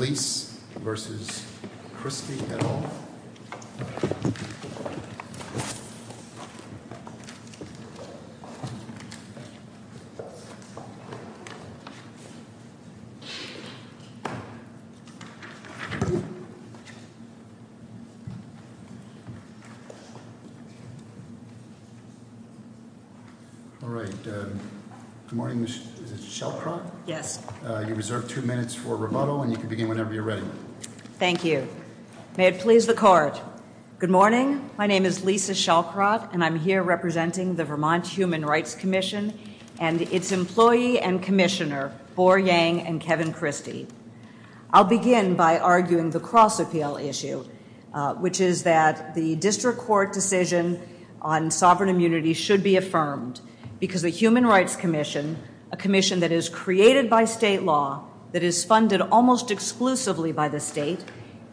Leise v. Christie et al. All right. Good morning. Is this Shellcroft? Yes. You're reserved two minutes for rebuttal, and you can begin whenever you're ready. Thank you. May it please the Court, good morning. My name is Leise Shellcroft, and I'm here representing the Vermont Human Rights Commission and its employee and commissioner, Boar Yang and Kevin Christie. I'll begin by arguing the cross-appeal issue, which is that the district court decision on sovereign immunity should be affirmed because the Human Rights Commission, a commission that is created by state law, that is funded almost exclusively by the state,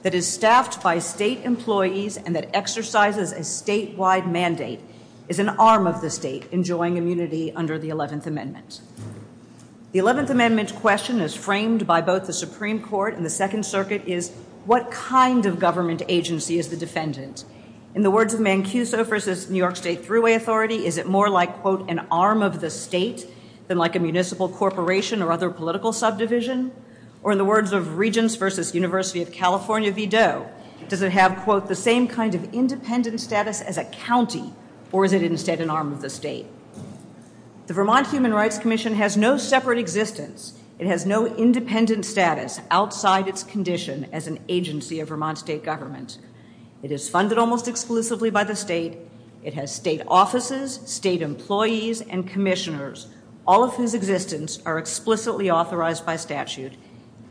that is staffed by state employees, and that exercises a statewide mandate, is an arm of the state enjoying immunity under the 11th Amendment. The 11th Amendment question is framed by both the Supreme Court and the Second Circuit is what kind of government agency is the defendant. In the words of Mancuso v. New York State Thruway Authority, is it more like, quote, an arm of the state than like a municipal corporation or other political subdivision? Or in the words of Regents v. University of California Vidoe, does it have, quote, the same kind of independent status as a county, or is it instead an arm of the state? The Vermont Human Rights Commission has no separate existence. It has no independent status outside its condition as an agency of Vermont state government. It is funded almost exclusively by the state. It has state offices, state employees, and commissioners, all of whose existence are explicitly authorized by statute,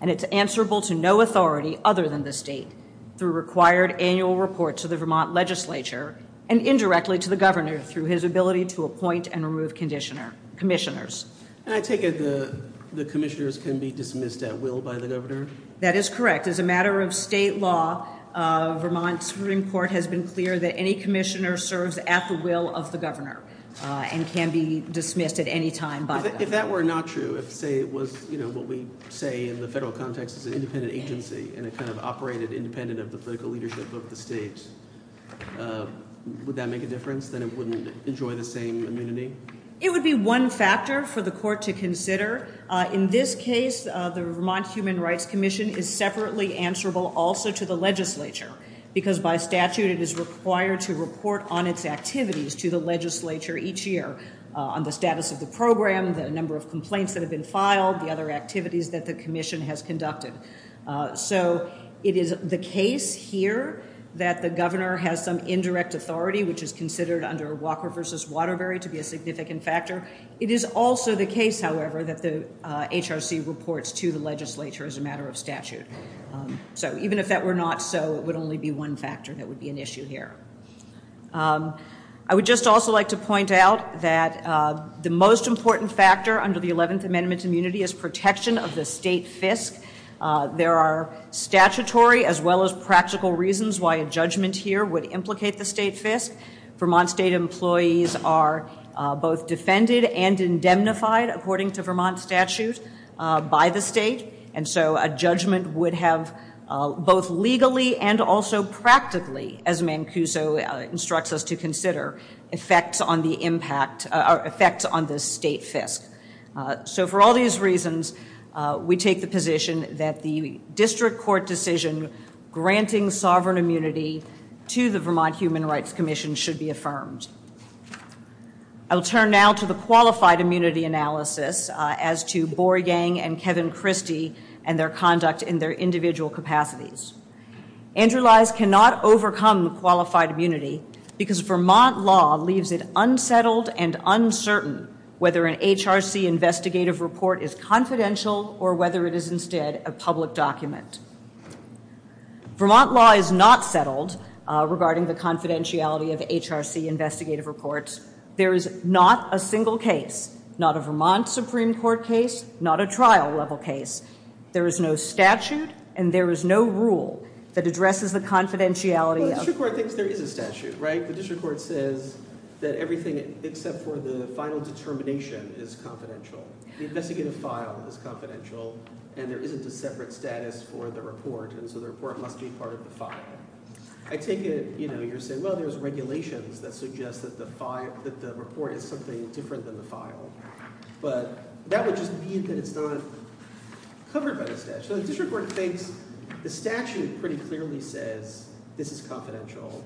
and it's answerable to no authority other than the state through required annual reports to the Vermont legislature and indirectly to the governor through his ability to appoint and remove commissioners. And I take it the commissioners can be dismissed at will by the governor? That is correct. As a matter of state law, Vermont Supreme Court has been clear that any commissioner serves at the will of the governor and can be dismissed at any time by the governor. If that were not true, if, say, it was, you know, what we say in the federal context is an independent agency and it kind of operated independent of the political leadership of the state, would that make a difference? Then it wouldn't enjoy the same immunity? It would be one factor for the court to consider. In this case, the Vermont Human Rights Commission is separately answerable also to the legislature because by statute it is required to report on its activities to the legislature each year on the status of the program, the number of complaints that have been filed, the other activities that the commission has conducted. So it is the case here that the governor has some indirect authority, which is considered under Walker v. Waterbury to be a significant factor. It is also the case, however, that the HRC reports to the legislature as a matter of statute. So even if that were not so, it would only be one factor that would be an issue here. I would just also like to point out that the most important factor under the 11th Amendment to immunity is protection of the state FISC. There are statutory as well as practical reasons why a judgment here would implicate the state FISC. Vermont state employees are both defended and indemnified, according to Vermont statute, by the state. And so a judgment would have both legally and also practically, as Mancuso instructs us to consider, effects on the state FISC. So for all these reasons, we take the position that the district court decision granting sovereign immunity to the Vermont Human Rights Commission should be affirmed. I'll turn now to the qualified immunity analysis as to Borgang and Kevin Christie and their conduct in their individual capacities. Andrew Lies cannot overcome qualified immunity because Vermont law leaves it unsettled and uncertain whether an HRC investigative report is confidential or whether it is instead a public document. Vermont law is not settled regarding the confidentiality of HRC investigative reports. There is not a single case, not a Vermont Supreme Court case, not a trial level case. There is no statute and there is no rule that addresses the confidentiality of Well, the district court thinks there is a statute, right? The district court says that everything except for the final determination is confidential. The investigative file is confidential and there isn't a separate status for the report and so the report must be part of the file. I take it, you know, you're saying, well, there's regulations that suggest that the report is something different than the file. But that would just mean that it's not covered by the statute. So the district court thinks the statute pretty clearly says this is confidential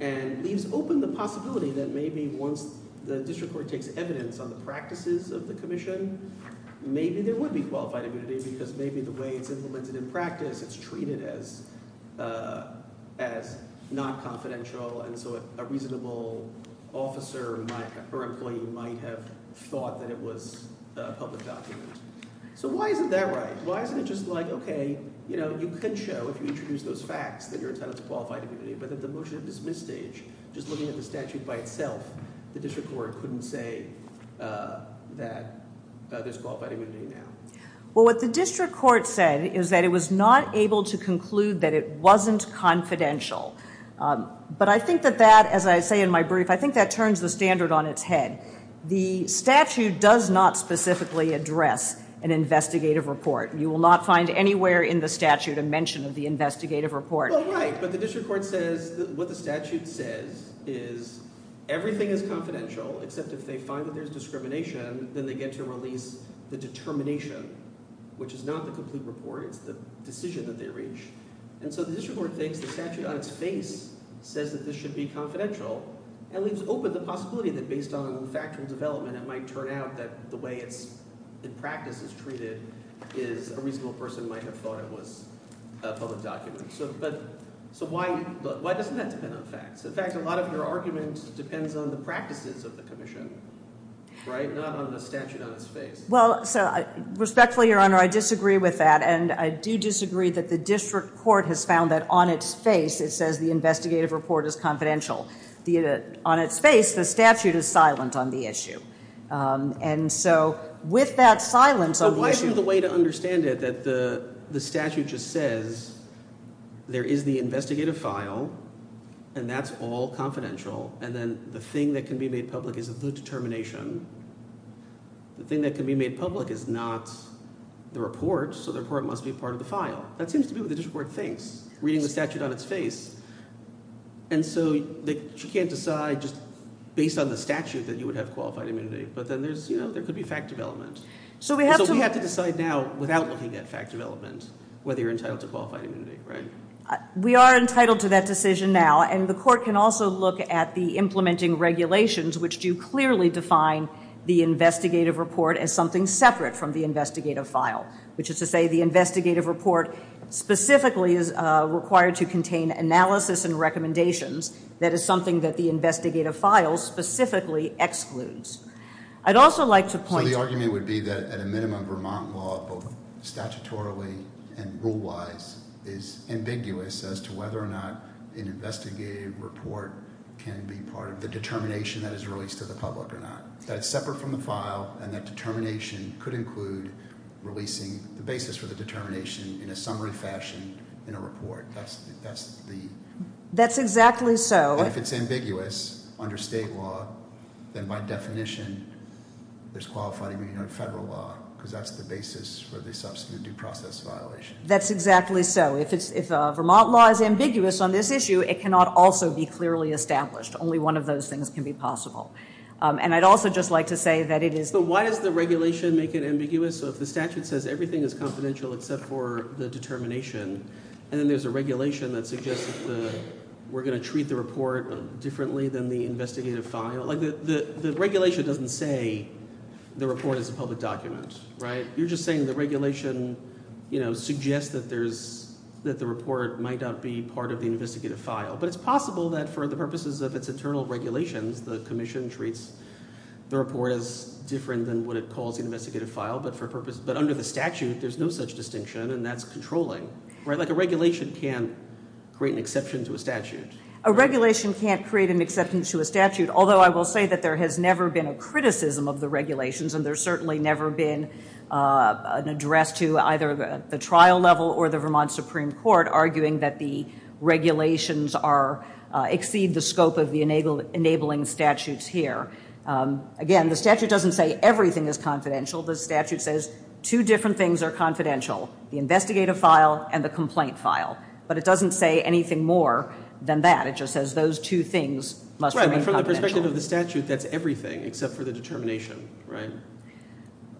and leaves open the possibility that maybe once the district court takes evidence on the practices of the commission, maybe there would be qualified immunity because maybe the way it's implemented in practice, it's treated as not confidential and so a reasonable officer or employee might have thought that it was a public document. So why isn't that right? Why isn't it just like, okay, you know, you can show if you introduce those facts that you're entitled to qualified immunity, but at the motion of dismiss stage, just looking at the statute by itself, the district court couldn't say that there's qualified immunity now. Well, what the district court said is that it was not able to conclude that it wasn't confidential. But I think that that, as I say in my brief, I think that turns the standard on its head. The statute does not specifically address an investigative report. You will not find anywhere in the statute a mention of the investigative report. Well, right, but the district court says what the statute says is everything is confidential, except if they find that there's discrimination, then they get to release the determination, which is not the complete report. It's the decision that they reach. And so the district court thinks the statute on its face says that this should be confidential and leaves open the possibility that based on factual development, it might turn out that the way it's in practice is treated is a reasonable person might have thought it was a public document. So why doesn't that depend on facts? In fact, a lot of your argument depends on the practices of the commission, right, not on the statute on its face. Well, respectfully, Your Honor, I disagree with that, and I do disagree that the district court has found that on its face it says the investigative report is confidential. On its face, the statute is silent on the issue. And so with that silence on the issue. So why isn't the way to understand it that the statute just says there is the investigative file and that's all confidential, and then the thing that can be made public is the determination? The thing that can be made public is not the report, so the report must be part of the file. That seems to be what the district court thinks, reading the statute on its face. And so she can't decide just based on the statute that you would have qualified immunity, but then there could be fact development. So we have to decide now without looking at fact development whether you're entitled to qualified immunity, right? We are entitled to that decision now, and the court can also look at the implementing regulations, which do clearly define the investigative report as something separate from the investigative file, which is to say the investigative report specifically is required to contain analysis and recommendations. That is something that the investigative file specifically excludes. I'd also like to point to- can be part of the determination that is released to the public or not. That's separate from the file, and that determination could include releasing the basis for the determination in a summary fashion in a report. That's the- That's exactly so. And if it's ambiguous under state law, then by definition there's qualified immunity under federal law, because that's the basis for the subsequent due process violation. That's exactly so. If Vermont law is ambiguous on this issue, it cannot also be clearly established. Only one of those things can be possible. And I'd also just like to say that it is- But why does the regulation make it ambiguous? So if the statute says everything is confidential except for the determination, and then there's a regulation that suggests that we're going to treat the report differently than the investigative file, like the regulation doesn't say the report is a public document, right? You're just saying the regulation, you know, suggests that there's-that the report might not be part of the investigative file. But it's possible that for the purposes of its internal regulations, the commission treats the report as different than what it calls an investigative file, but for purposes- But under the statute, there's no such distinction, and that's controlling, right? Like a regulation can't create an exception to a statute. A regulation can't create an exception to a statute, although I will say that there has never been a criticism of the regulations, and there's certainly never been an address to either the trial level or the Vermont Supreme Court arguing that the regulations are-exceed the scope of the enabling statutes here. Again, the statute doesn't say everything is confidential. The statute says two different things are confidential, the investigative file and the complaint file. But it doesn't say anything more than that. It just says those two things must remain confidential. Right, but from the perspective of the statute, that's everything except for the determination, right?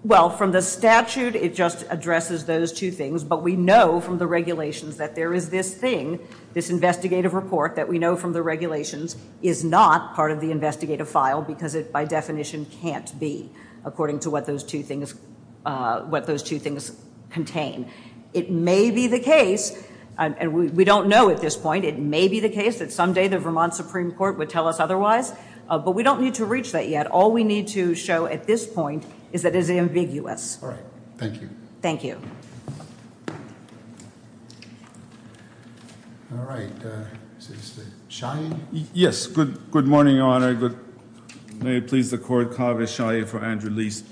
Well, from the statute, it just addresses those two things, but we know from the regulations that there is this thing, this investigative report, that we know from the regulations is not part of the investigative file because it by definition can't be according to what those two things-what those two things contain. It may be the case, and we don't know at this point, it may be the case that someday the Vermont Supreme Court would tell us otherwise, but we don't need to reach that yet. All we need to show at this point is that it is ambiguous. All right. Thank you. Thank you. All right. Shia? Yes, good morning, Your Honor. May it please the Court, Kaveh Shia for Andrew Lease.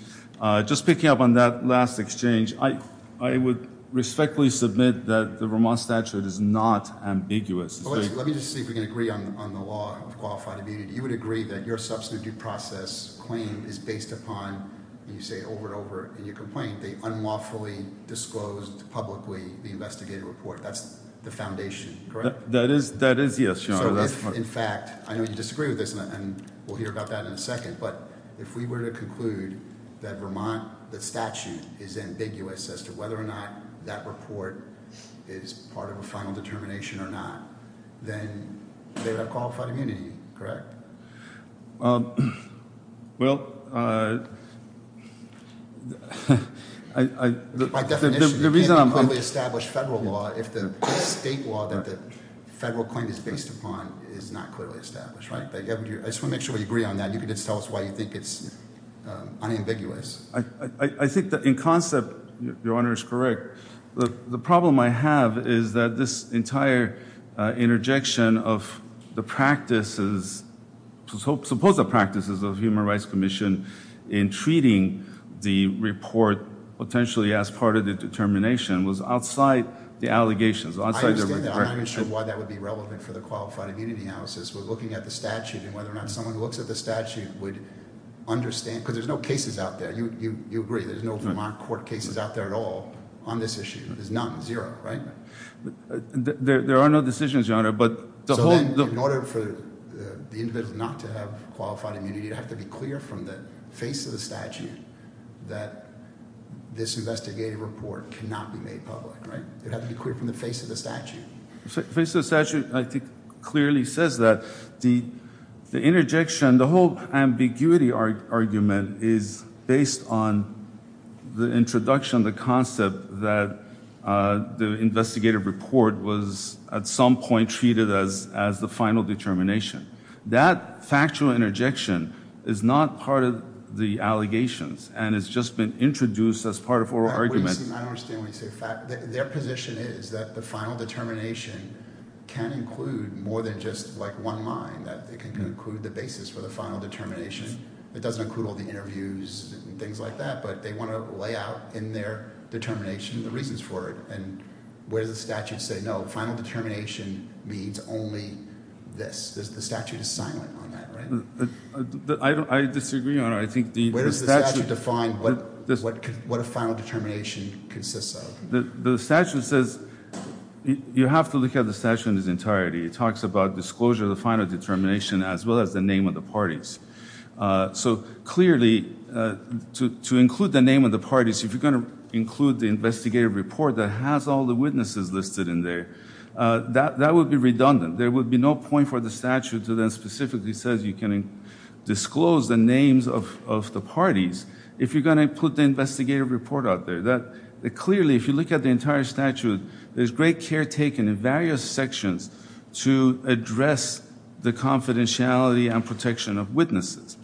Just picking up on that last exchange, I would respectfully submit that the Vermont statute is not ambiguous. Let me just see if we can agree on the law of qualified immunity. You would agree that your substantive process claim is based upon, you say over and over in your complaint, the unlawfully disclosed publicly the investigative report. That's the foundation, correct? That is, yes, Your Honor. So if, in fact, I know you disagree with this, and we'll hear about that in a second, but if we were to conclude that Vermont, the statute, is ambiguous as to whether or not that report is part of a final determination or not, then they would have qualified immunity, correct? Well, I – By definition, you can't clearly establish federal law if the state law that the federal claim is based upon is not clearly established, right? I just want to make sure we agree on that, and you can just tell us why you think it's unambiguous. I think that in concept, Your Honor is correct. The problem I have is that this entire interjection of the practices, supposed practices of the Human Rights Commission in treating the report potentially as part of the determination was outside the allegations. I understand that. I'm not even sure why that would be relevant for the qualified immunity analysis. We're looking at the statute and whether or not someone who looks at the statute would understand, because there's no cases out there. You agree there's no Vermont court cases out there at all on this issue. There's none, zero, right? There are no decisions, Your Honor, but the whole – So then in order for the individual not to have qualified immunity, you'd have to be clear from the face of the statute that this investigative report cannot be made public, right? It'd have to be clear from the face of the statute. The face of the statute, I think, clearly says that the interjection, the whole ambiguity argument is based on the introduction, the concept that the investigative report was at some point treated as the final determination. That factual interjection is not part of the allegations and has just been introduced as part of oral argument. Their position is that the final determination can include more than just one line, that it can include the basis for the final determination. It doesn't include all the interviews and things like that, but they want to lay out in their determination the reasons for it. And where does the statute say, no, final determination means only this? The statute is silent on that, right? I disagree, Your Honor. Where does the statute define what a final determination consists of? The statute says you have to look at the statute in its entirety. It talks about disclosure of the final determination as well as the name of the parties. So clearly, to include the name of the parties, if you're going to include the investigative report that has all the witnesses listed in there, that would be redundant. There would be no point for the statute to then specifically say you can disclose the names of the parties if you're going to put the investigative report out there. Clearly, if you look at the entire statute, there's great care taken in various sections to address the confidentiality and protection of witnesses.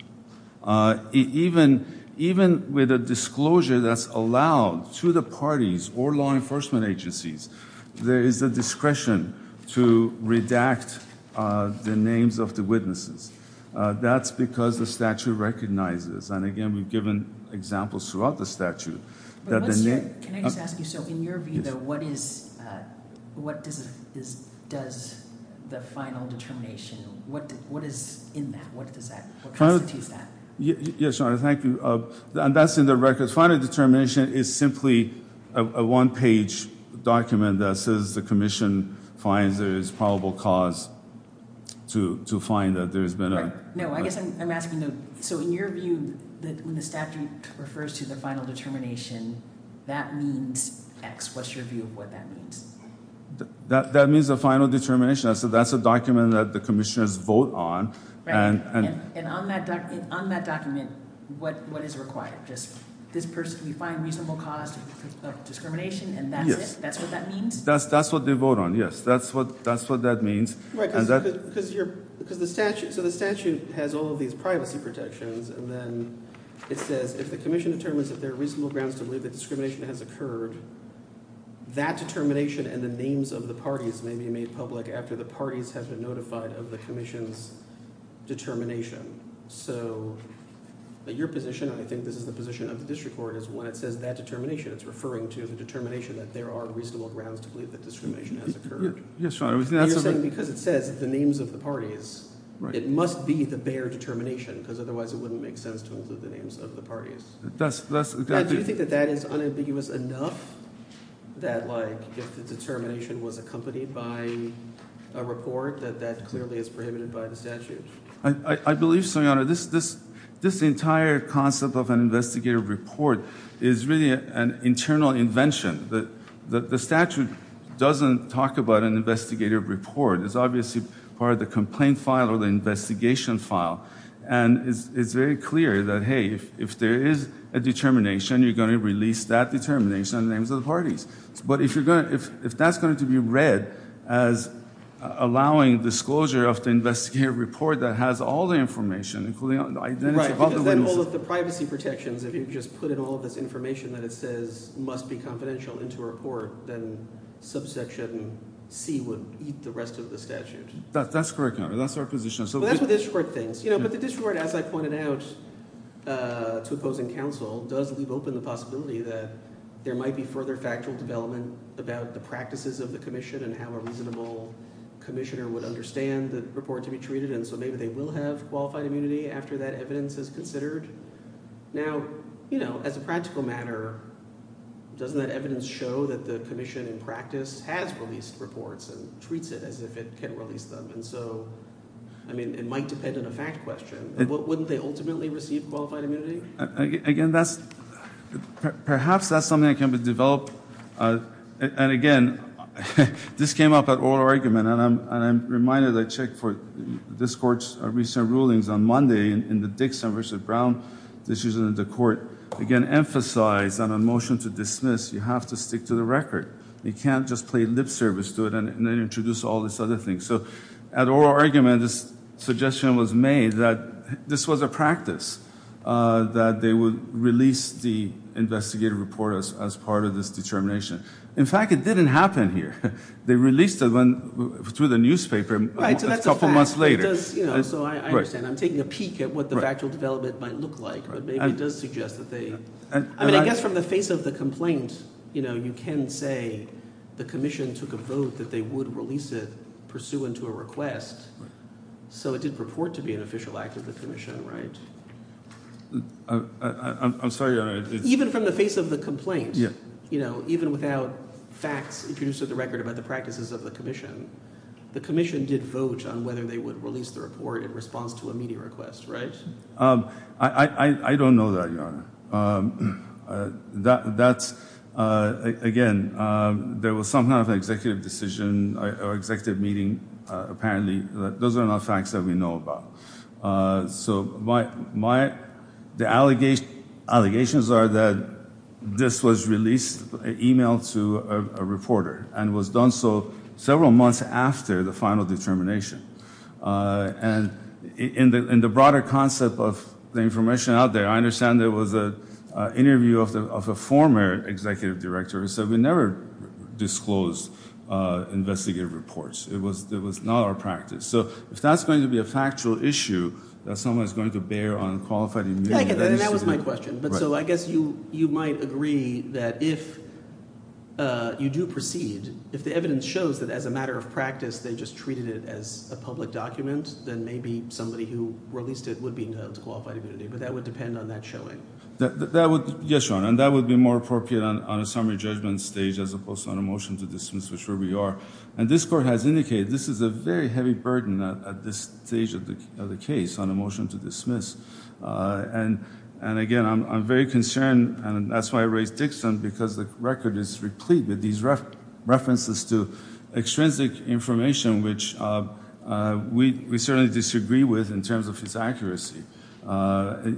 Even with a disclosure that's allowed to the parties or law enforcement agencies, there is a discretion to redact the names of the witnesses. That's because the statute recognizes, and again, we've given examples throughout the statute. Can I just ask you, so in your view, though, what does the final determination, what is in that? What constitutes that? Yes, Your Honor, thank you. That's in the records. Final determination is simply a one-page document that says the commission finds there is probable cause to find that there has been a… No, I guess I'm asking, though, so in your view, when the statute refers to the final determination, that means X. What's your view of what that means? That means the final determination. That's a document that the commissioners vote on. Right, and on that document, what is required? Just this person, we find reasonable cause of discrimination, and that's it? Yes. That's what that means? That's what they vote on, yes. That's what that means. Right, because the statute has all of these privacy protections, and then it says if the commission determines that there are reasonable grounds to believe that discrimination has occurred, that determination and the names of the parties may be made public after the parties have been notified of the commission's determination. So your position, and I think this is the position of the district court, is when it says that determination, it's referring to the determination that there are reasonable grounds to believe that discrimination has occurred. Yes, Your Honor. Because it says the names of the parties, it must be the bare determination, because otherwise it wouldn't make sense to include the names of the parties. Do you think that that is unambiguous enough that, like, if the determination was accompanied by a report, that that clearly is prohibited by the statute? I believe so, Your Honor. This entire concept of an investigative report is really an internal invention. The statute doesn't talk about an investigative report. It's obviously part of the complaint file or the investigation file. And it's very clear that, hey, if there is a determination, you're going to release that determination and the names of the parties. But if that's going to be read as allowing disclosure of the investigative report that has all the information, including the identity of all the witnesses… Right, because then all of the privacy protections, if you just put in all of this information that it says must be confidential into a report, then subsection C would eat the rest of the statute. That's correct, Your Honor. That's our position. But the district court, as I pointed out to opposing counsel, does leave open the possibility that there might be further factual development about the practices of the commission and how a reasonable commissioner would understand the report to be treated. And so maybe they will have qualified immunity after that evidence is considered. Now, as a practical matter, doesn't that evidence show that the commission in practice has released reports and treats it as if it can release them? And so, I mean, it might depend on a fact question. Wouldn't they ultimately receive qualified immunity? Again, that's – perhaps that's something that can be developed. And again, this came up at oral argument, and I'm reminded I checked for this court's recent rulings on Monday in the Dixon v. Brown. This is the court, again, emphasized on a motion to dismiss, you have to stick to the record. You can't just play lip service to it and then introduce all these other things. So at oral argument, this suggestion was made that this was a practice, that they would release the investigative report as part of this determination. In fact, it didn't happen here. They released it through the newspaper a couple months later. So I understand. I'm taking a peek at what the factual development might look like, but maybe it does suggest that they – I guess from the face of the complaint, you can say the commission took a vote that they would release it pursuant to a request. So it did purport to be an official act of the commission, right? I'm sorry. Even from the face of the complaint, even without facts introduced to the record about the practices of the commission, the commission did vote on whether they would release the report in response to a meeting request, right? I don't know that, Your Honor. That's – again, there was some kind of an executive decision or executive meeting apparently. Those are not facts that we know about. So my – the allegations are that this was released, emailed to a reporter and was done so several months after the final determination. And in the broader concept of the information out there, I understand there was an interview of a former executive director who said we never disclose investigative reports. It was not our practice. So if that's going to be a factual issue that someone is going to bear on qualified immunity – That was my question. So I guess you might agree that if you do proceed, if the evidence shows that as a matter of practice they just treated it as a public document, then maybe somebody who released it would be known to qualified immunity. But that would depend on that showing. Yes, Your Honor. And that would be more appropriate on a summary judgment stage as opposed to on a motion to dismiss, which we are. And this court has indicated this is a very heavy burden at this stage of the case on a motion to dismiss. And, again, I'm very concerned, and that's why I raised Dixon, because the record is replete with these references to extrinsic information, which we certainly disagree with in terms of its accuracy,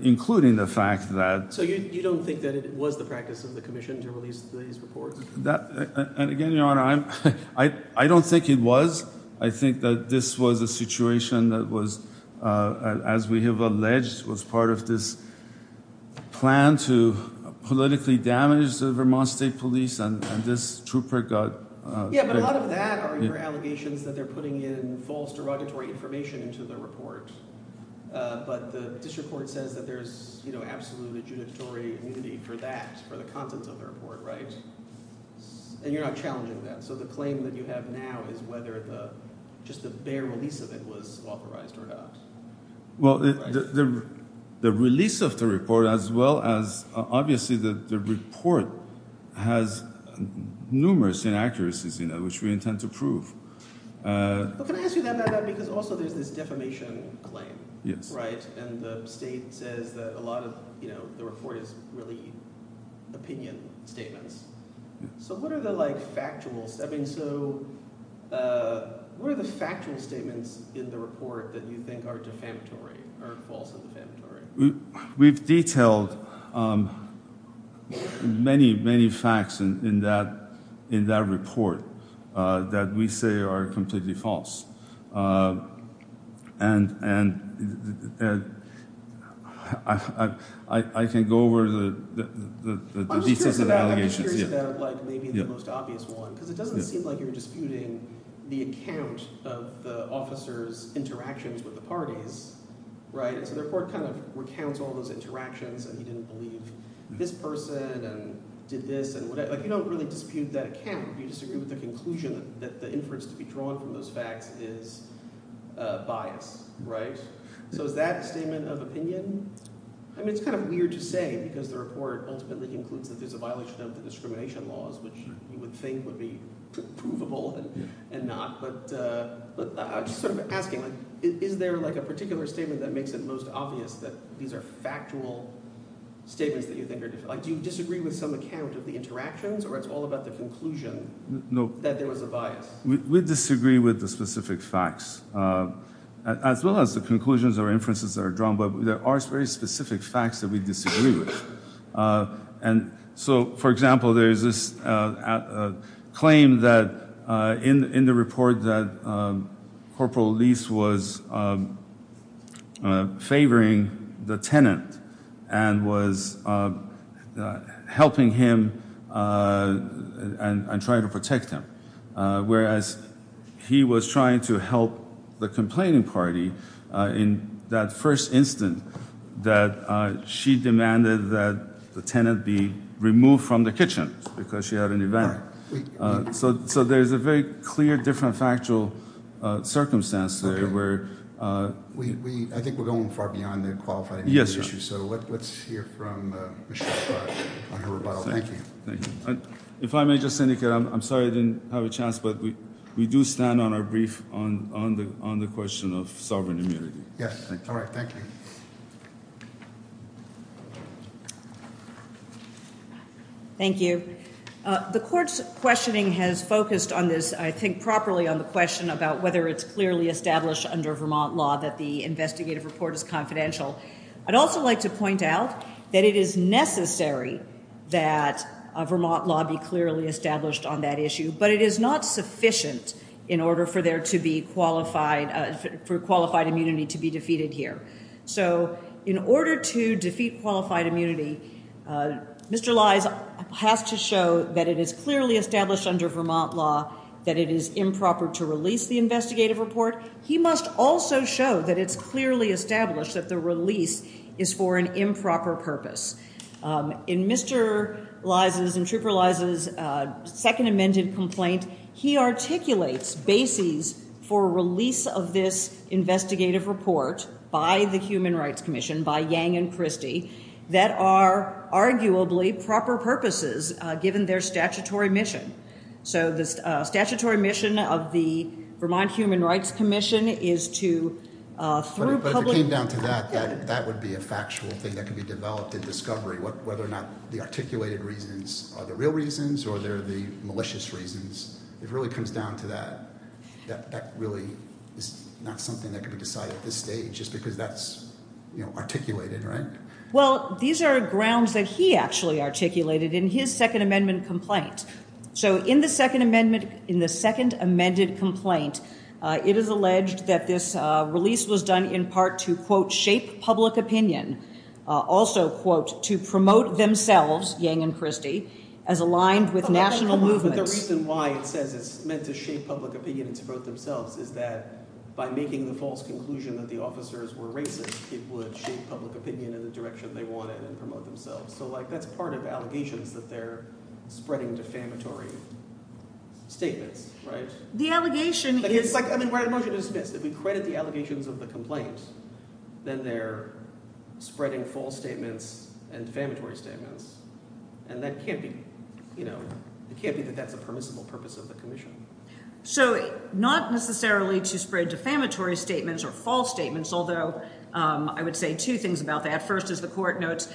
including the fact that – So you don't think that it was the practice of the commission to release these reports? Again, Your Honor, I don't think it was. I think that this was a situation that was, as we have alleged, was part of this plan to politically damage the Vermont State Police, and this trooper got – Yeah, but a lot of that are your allegations that they're putting in false, derogatory information into the report. But this report says that there's absolutely adjudicatory immunity for that, for the contents of the report, right? And you're not challenging that. So the claim that you have now is whether the – just the bare release of it was authorized or not. Well, the release of the report as well as – obviously, the report has numerous inaccuracies in it, which we intend to prove. But can I ask you that, because also there's this defamation claim, right? And the state says that a lot of the report is really opinion statements. So what are the factual – I mean, so what are the factual statements in the report that you think are defamatory or false and defamatory? We've detailed many, many facts in that report that we say are completely false. And I can go over the details of the allegations. I'm just curious about, like, maybe the most obvious one, because it doesn't seem like you're disputing the account of the officers' interactions with the parties, right? So the report kind of recounts all those interactions, and he didn't believe this person and did this and whatever. You don't really dispute that account. You disagree with the conclusion that the inference to be drawn from those facts is bias, right? So is that a statement of opinion? I mean it's kind of weird to say because the report ultimately concludes that there's a violation of the discrimination laws, which you would think would be provable and not. But I'm just sort of asking, like, is there, like, a particular statement that makes it most obvious that these are factual statements that you think are defamatory? Like, do you disagree with some account of the interactions, or it's all about the conclusion that there was a bias? We disagree with the specific facts, as well as the conclusions or inferences that are drawn, but there are very specific facts that we disagree with. And so, for example, there's this claim that in the report that Corporal Lease was favoring the tenant and was helping him and trying to protect him, whereas he was trying to help the complaining party in that first instant that she demanded that the tenant be removed from the kitchen because she had an event. So there's a very clear, different, factual circumstance there where- I think we're going far beyond the qualified- Yes, sir. So let's hear from Ms. Schultz on her rebuttal. Thank you. If I may just indicate, I'm sorry I didn't have a chance, but we do stand on our brief on the question of sovereign immunity. Yes, all right. Thank you. Thank you. The court's questioning has focused on this, I think, properly on the question about whether it's clearly established under Vermont law that the investigative report is confidential. I'd also like to point out that it is necessary that a Vermont law be clearly established on that issue, but it is not sufficient in order for qualified immunity to be defeated here. So in order to defeat qualified immunity, Mr. Lies has to show that it is clearly established under Vermont law that it is improper to release the investigative report. He must also show that it's clearly established that the release is for an improper purpose. In Mr. Lies' and Trooper Lies' second amended complaint, he articulates bases for release of this investigative report by the Human Rights Commission, by Yang and Christie, that are arguably proper purposes given their statutory mission. So the statutory mission of the Vermont Human Rights Commission is to, through public... But if it came down to that, that would be a factual thing that could be developed in discovery, whether or not the articulated reasons are the real reasons or they're the malicious reasons. If it really comes down to that, that really is not something that could be decided at this stage just because that's articulated, right? Well, these are grounds that he actually articulated in his second amendment complaint. So in the second amendment complaint, it is alleged that this release was done in part to, quote, shape public opinion, also, quote, to promote themselves, Yang and Christie, as aligned with national movements. But the reason why it says it's meant to shape public opinion and to promote themselves is that by making the false conclusion that the officers were racist, it would shape public opinion in the direction they wanted and promote themselves. So, like, that's part of allegations that they're spreading defamatory statements, right? The allegation is… It's like, I mean, write a motion to dismiss. If we credit the allegations of the complaint, then they're spreading false statements and defamatory statements. And that can't be – it can't be that that's a permissible purpose of the commission. So not necessarily to spread defamatory statements or false statements, although I would say two things about that. First, as the court notes,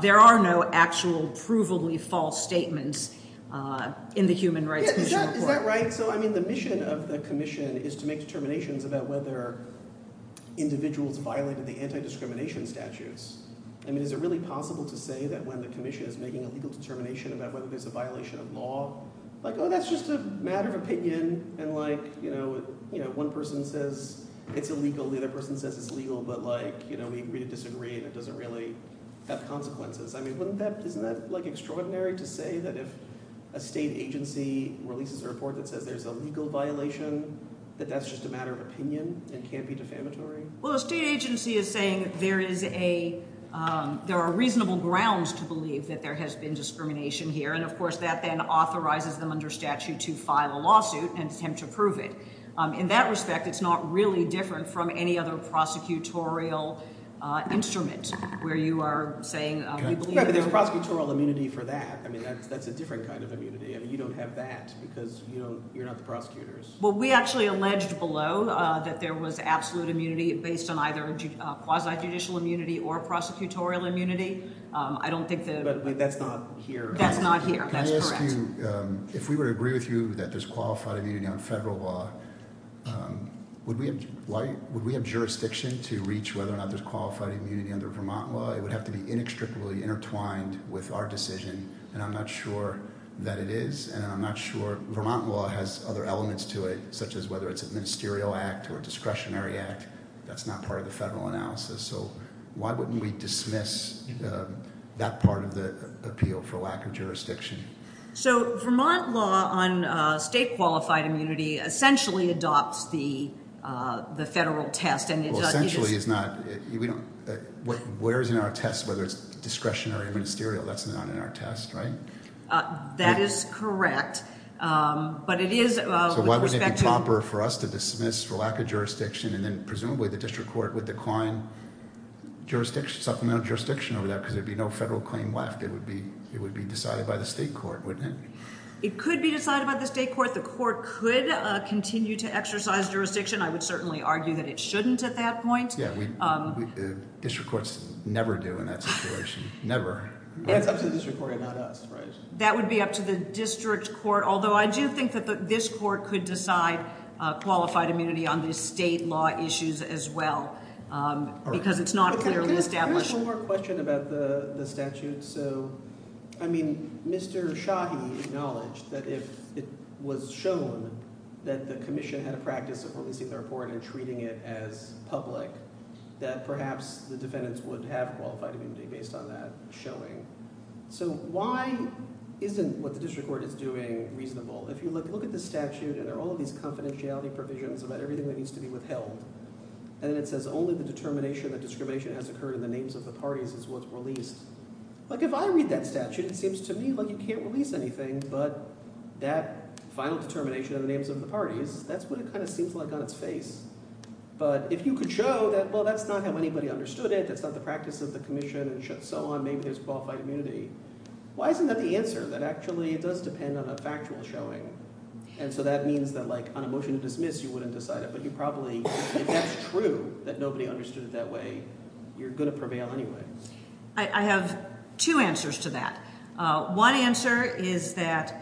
there are no actual provably false statements in the Human Rights Commission report. Yeah, is that right? So, I mean, the mission of the commission is to make determinations about whether individuals violated the anti-discrimination statutes. I mean, is it really possible to say that when the commission is making a legal determination about whether there's a violation of law, like, oh, that's just a matter of opinion and, like, one person says it's illegal. The other person says it's legal, but we agree to disagree, and it doesn't really have consequences. I mean, wouldn't that – isn't that extraordinary to say that if a state agency releases a report that says there's a legal violation, that that's just a matter of opinion and can't be defamatory? Well, a state agency is saying there is a – there are reasonable grounds to believe that there has been discrimination here, and, of course, that then authorizes them under statute to file a lawsuit and attempt to prove it. In that respect, it's not really different from any other prosecutorial instrument where you are saying – Yeah, but there's prosecutorial immunity for that. I mean that's a different kind of immunity. I mean you don't have that because you don't – you're not the prosecutors. Well, we actually alleged below that there was absolute immunity based on either quasi-judicial immunity or prosecutorial immunity. I don't think that – But that's not here. That's not here. That's correct. Can I ask you – if we were to agree with you that there's qualified immunity on federal law, would we have jurisdiction to reach whether or not there's qualified immunity under Vermont law? It would have to be inextricably intertwined with our decision, and I'm not sure that it is, and I'm not sure – Vermont law has other elements to it, such as whether it's a ministerial act or a discretionary act. That's not part of the federal analysis, so why wouldn't we dismiss that part of the appeal for lack of jurisdiction? So Vermont law on state qualified immunity essentially adopts the federal test and it does – Essentially it's not – we don't – where is in our test whether it's discretionary or ministerial? That's not in our test, right? That is correct, but it is – So why wouldn't it be proper for us to dismiss for lack of jurisdiction and then presumably the district court would decline jurisdiction – supplemental jurisdiction over that because there would be no federal claim left? It would be decided by the state court, wouldn't it? It could be decided by the state court. The court could continue to exercise jurisdiction. I would certainly argue that it shouldn't at that point. Yeah, district courts never do in that situation, never. It's up to the district court and not us, right? That would be up to the district court, although I do think that this court could decide qualified immunity on the state law issues as well because it's not clearly established. I have one more question about the statute. So I mean Mr. Shahi acknowledged that if it was shown that the commission had a practice of releasing the report and treating it as public, that perhaps the defendants would have qualified immunity based on that showing. So why isn't what the district court is doing reasonable? If you look at the statute and there are all of these confidentiality provisions about everything that needs to be withheld, and then it says only the determination that discrimination has occurred in the names of the parties is what's released. Like if I read that statute, it seems to me like you can't release anything, but that final determination in the names of the parties, that's what it kind of seems like on its face. But if you could show that, well, that's not how anybody understood it. That's not the practice of the commission and so on. Maybe there's qualified immunity. Why isn't that the answer that actually it does depend on a factual showing? And so that means that like on a motion to dismiss, you wouldn't decide it, but you probably – if that's true that nobody understood it that way, you're going to prevail anyway. I have two answers to that. One answer is that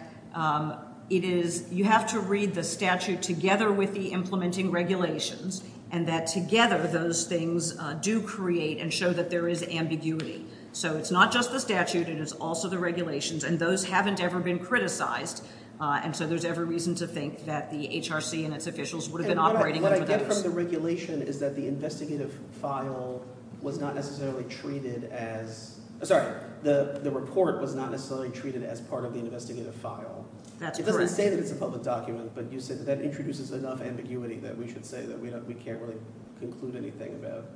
it is – you have to read the statute together with the implementing regulations and that together those things do create and show that there is ambiguity. So it's not just the statute. It is also the regulations, and those haven't ever been criticized, and so there's every reason to think that the HRC and its officials would have been operating under those. The difference from the regulation is that the investigative file was not necessarily treated as – sorry. The report was not necessarily treated as part of the investigative file. That's correct. It doesn't say that it's a public document, but you said that that introduces enough ambiguity that we should say that we can't really conclude anything about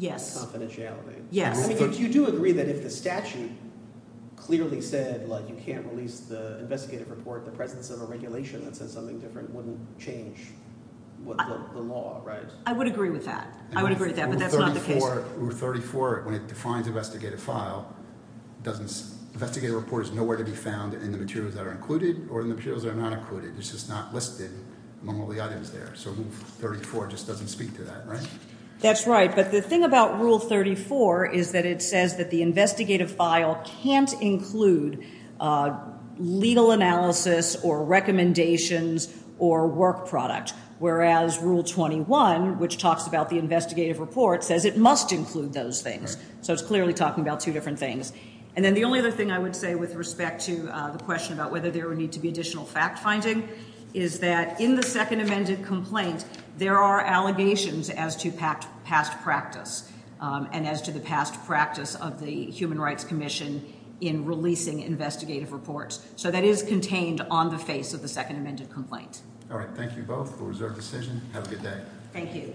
confidentiality. You do agree that if the statute clearly said you can't release the investigative report, the presence of a regulation that says something different wouldn't change the law, right? I would agree with that. I would agree with that, but that's not the case. Rule 34, when it defines investigative file, doesn't – investigative report is nowhere to be found in the materials that are included or in the materials that are not included. It's just not listed among all the items there. So Rule 34 just doesn't speak to that, right? That's right, but the thing about Rule 34 is that it says that the investigative file can't include legal analysis or recommendations or work product, whereas Rule 21, which talks about the investigative report, says it must include those things. So it's clearly talking about two different things. And then the only other thing I would say with respect to the question about whether there would need to be additional fact-finding is that in the Second Amended Complaint, there are allegations as to past practice and as to the past practice of the Human Rights Commission in releasing investigative reports. So that is contained on the face of the Second Amended Complaint. All right. Thank you both for the reserved decision. Have a good day. Thank you.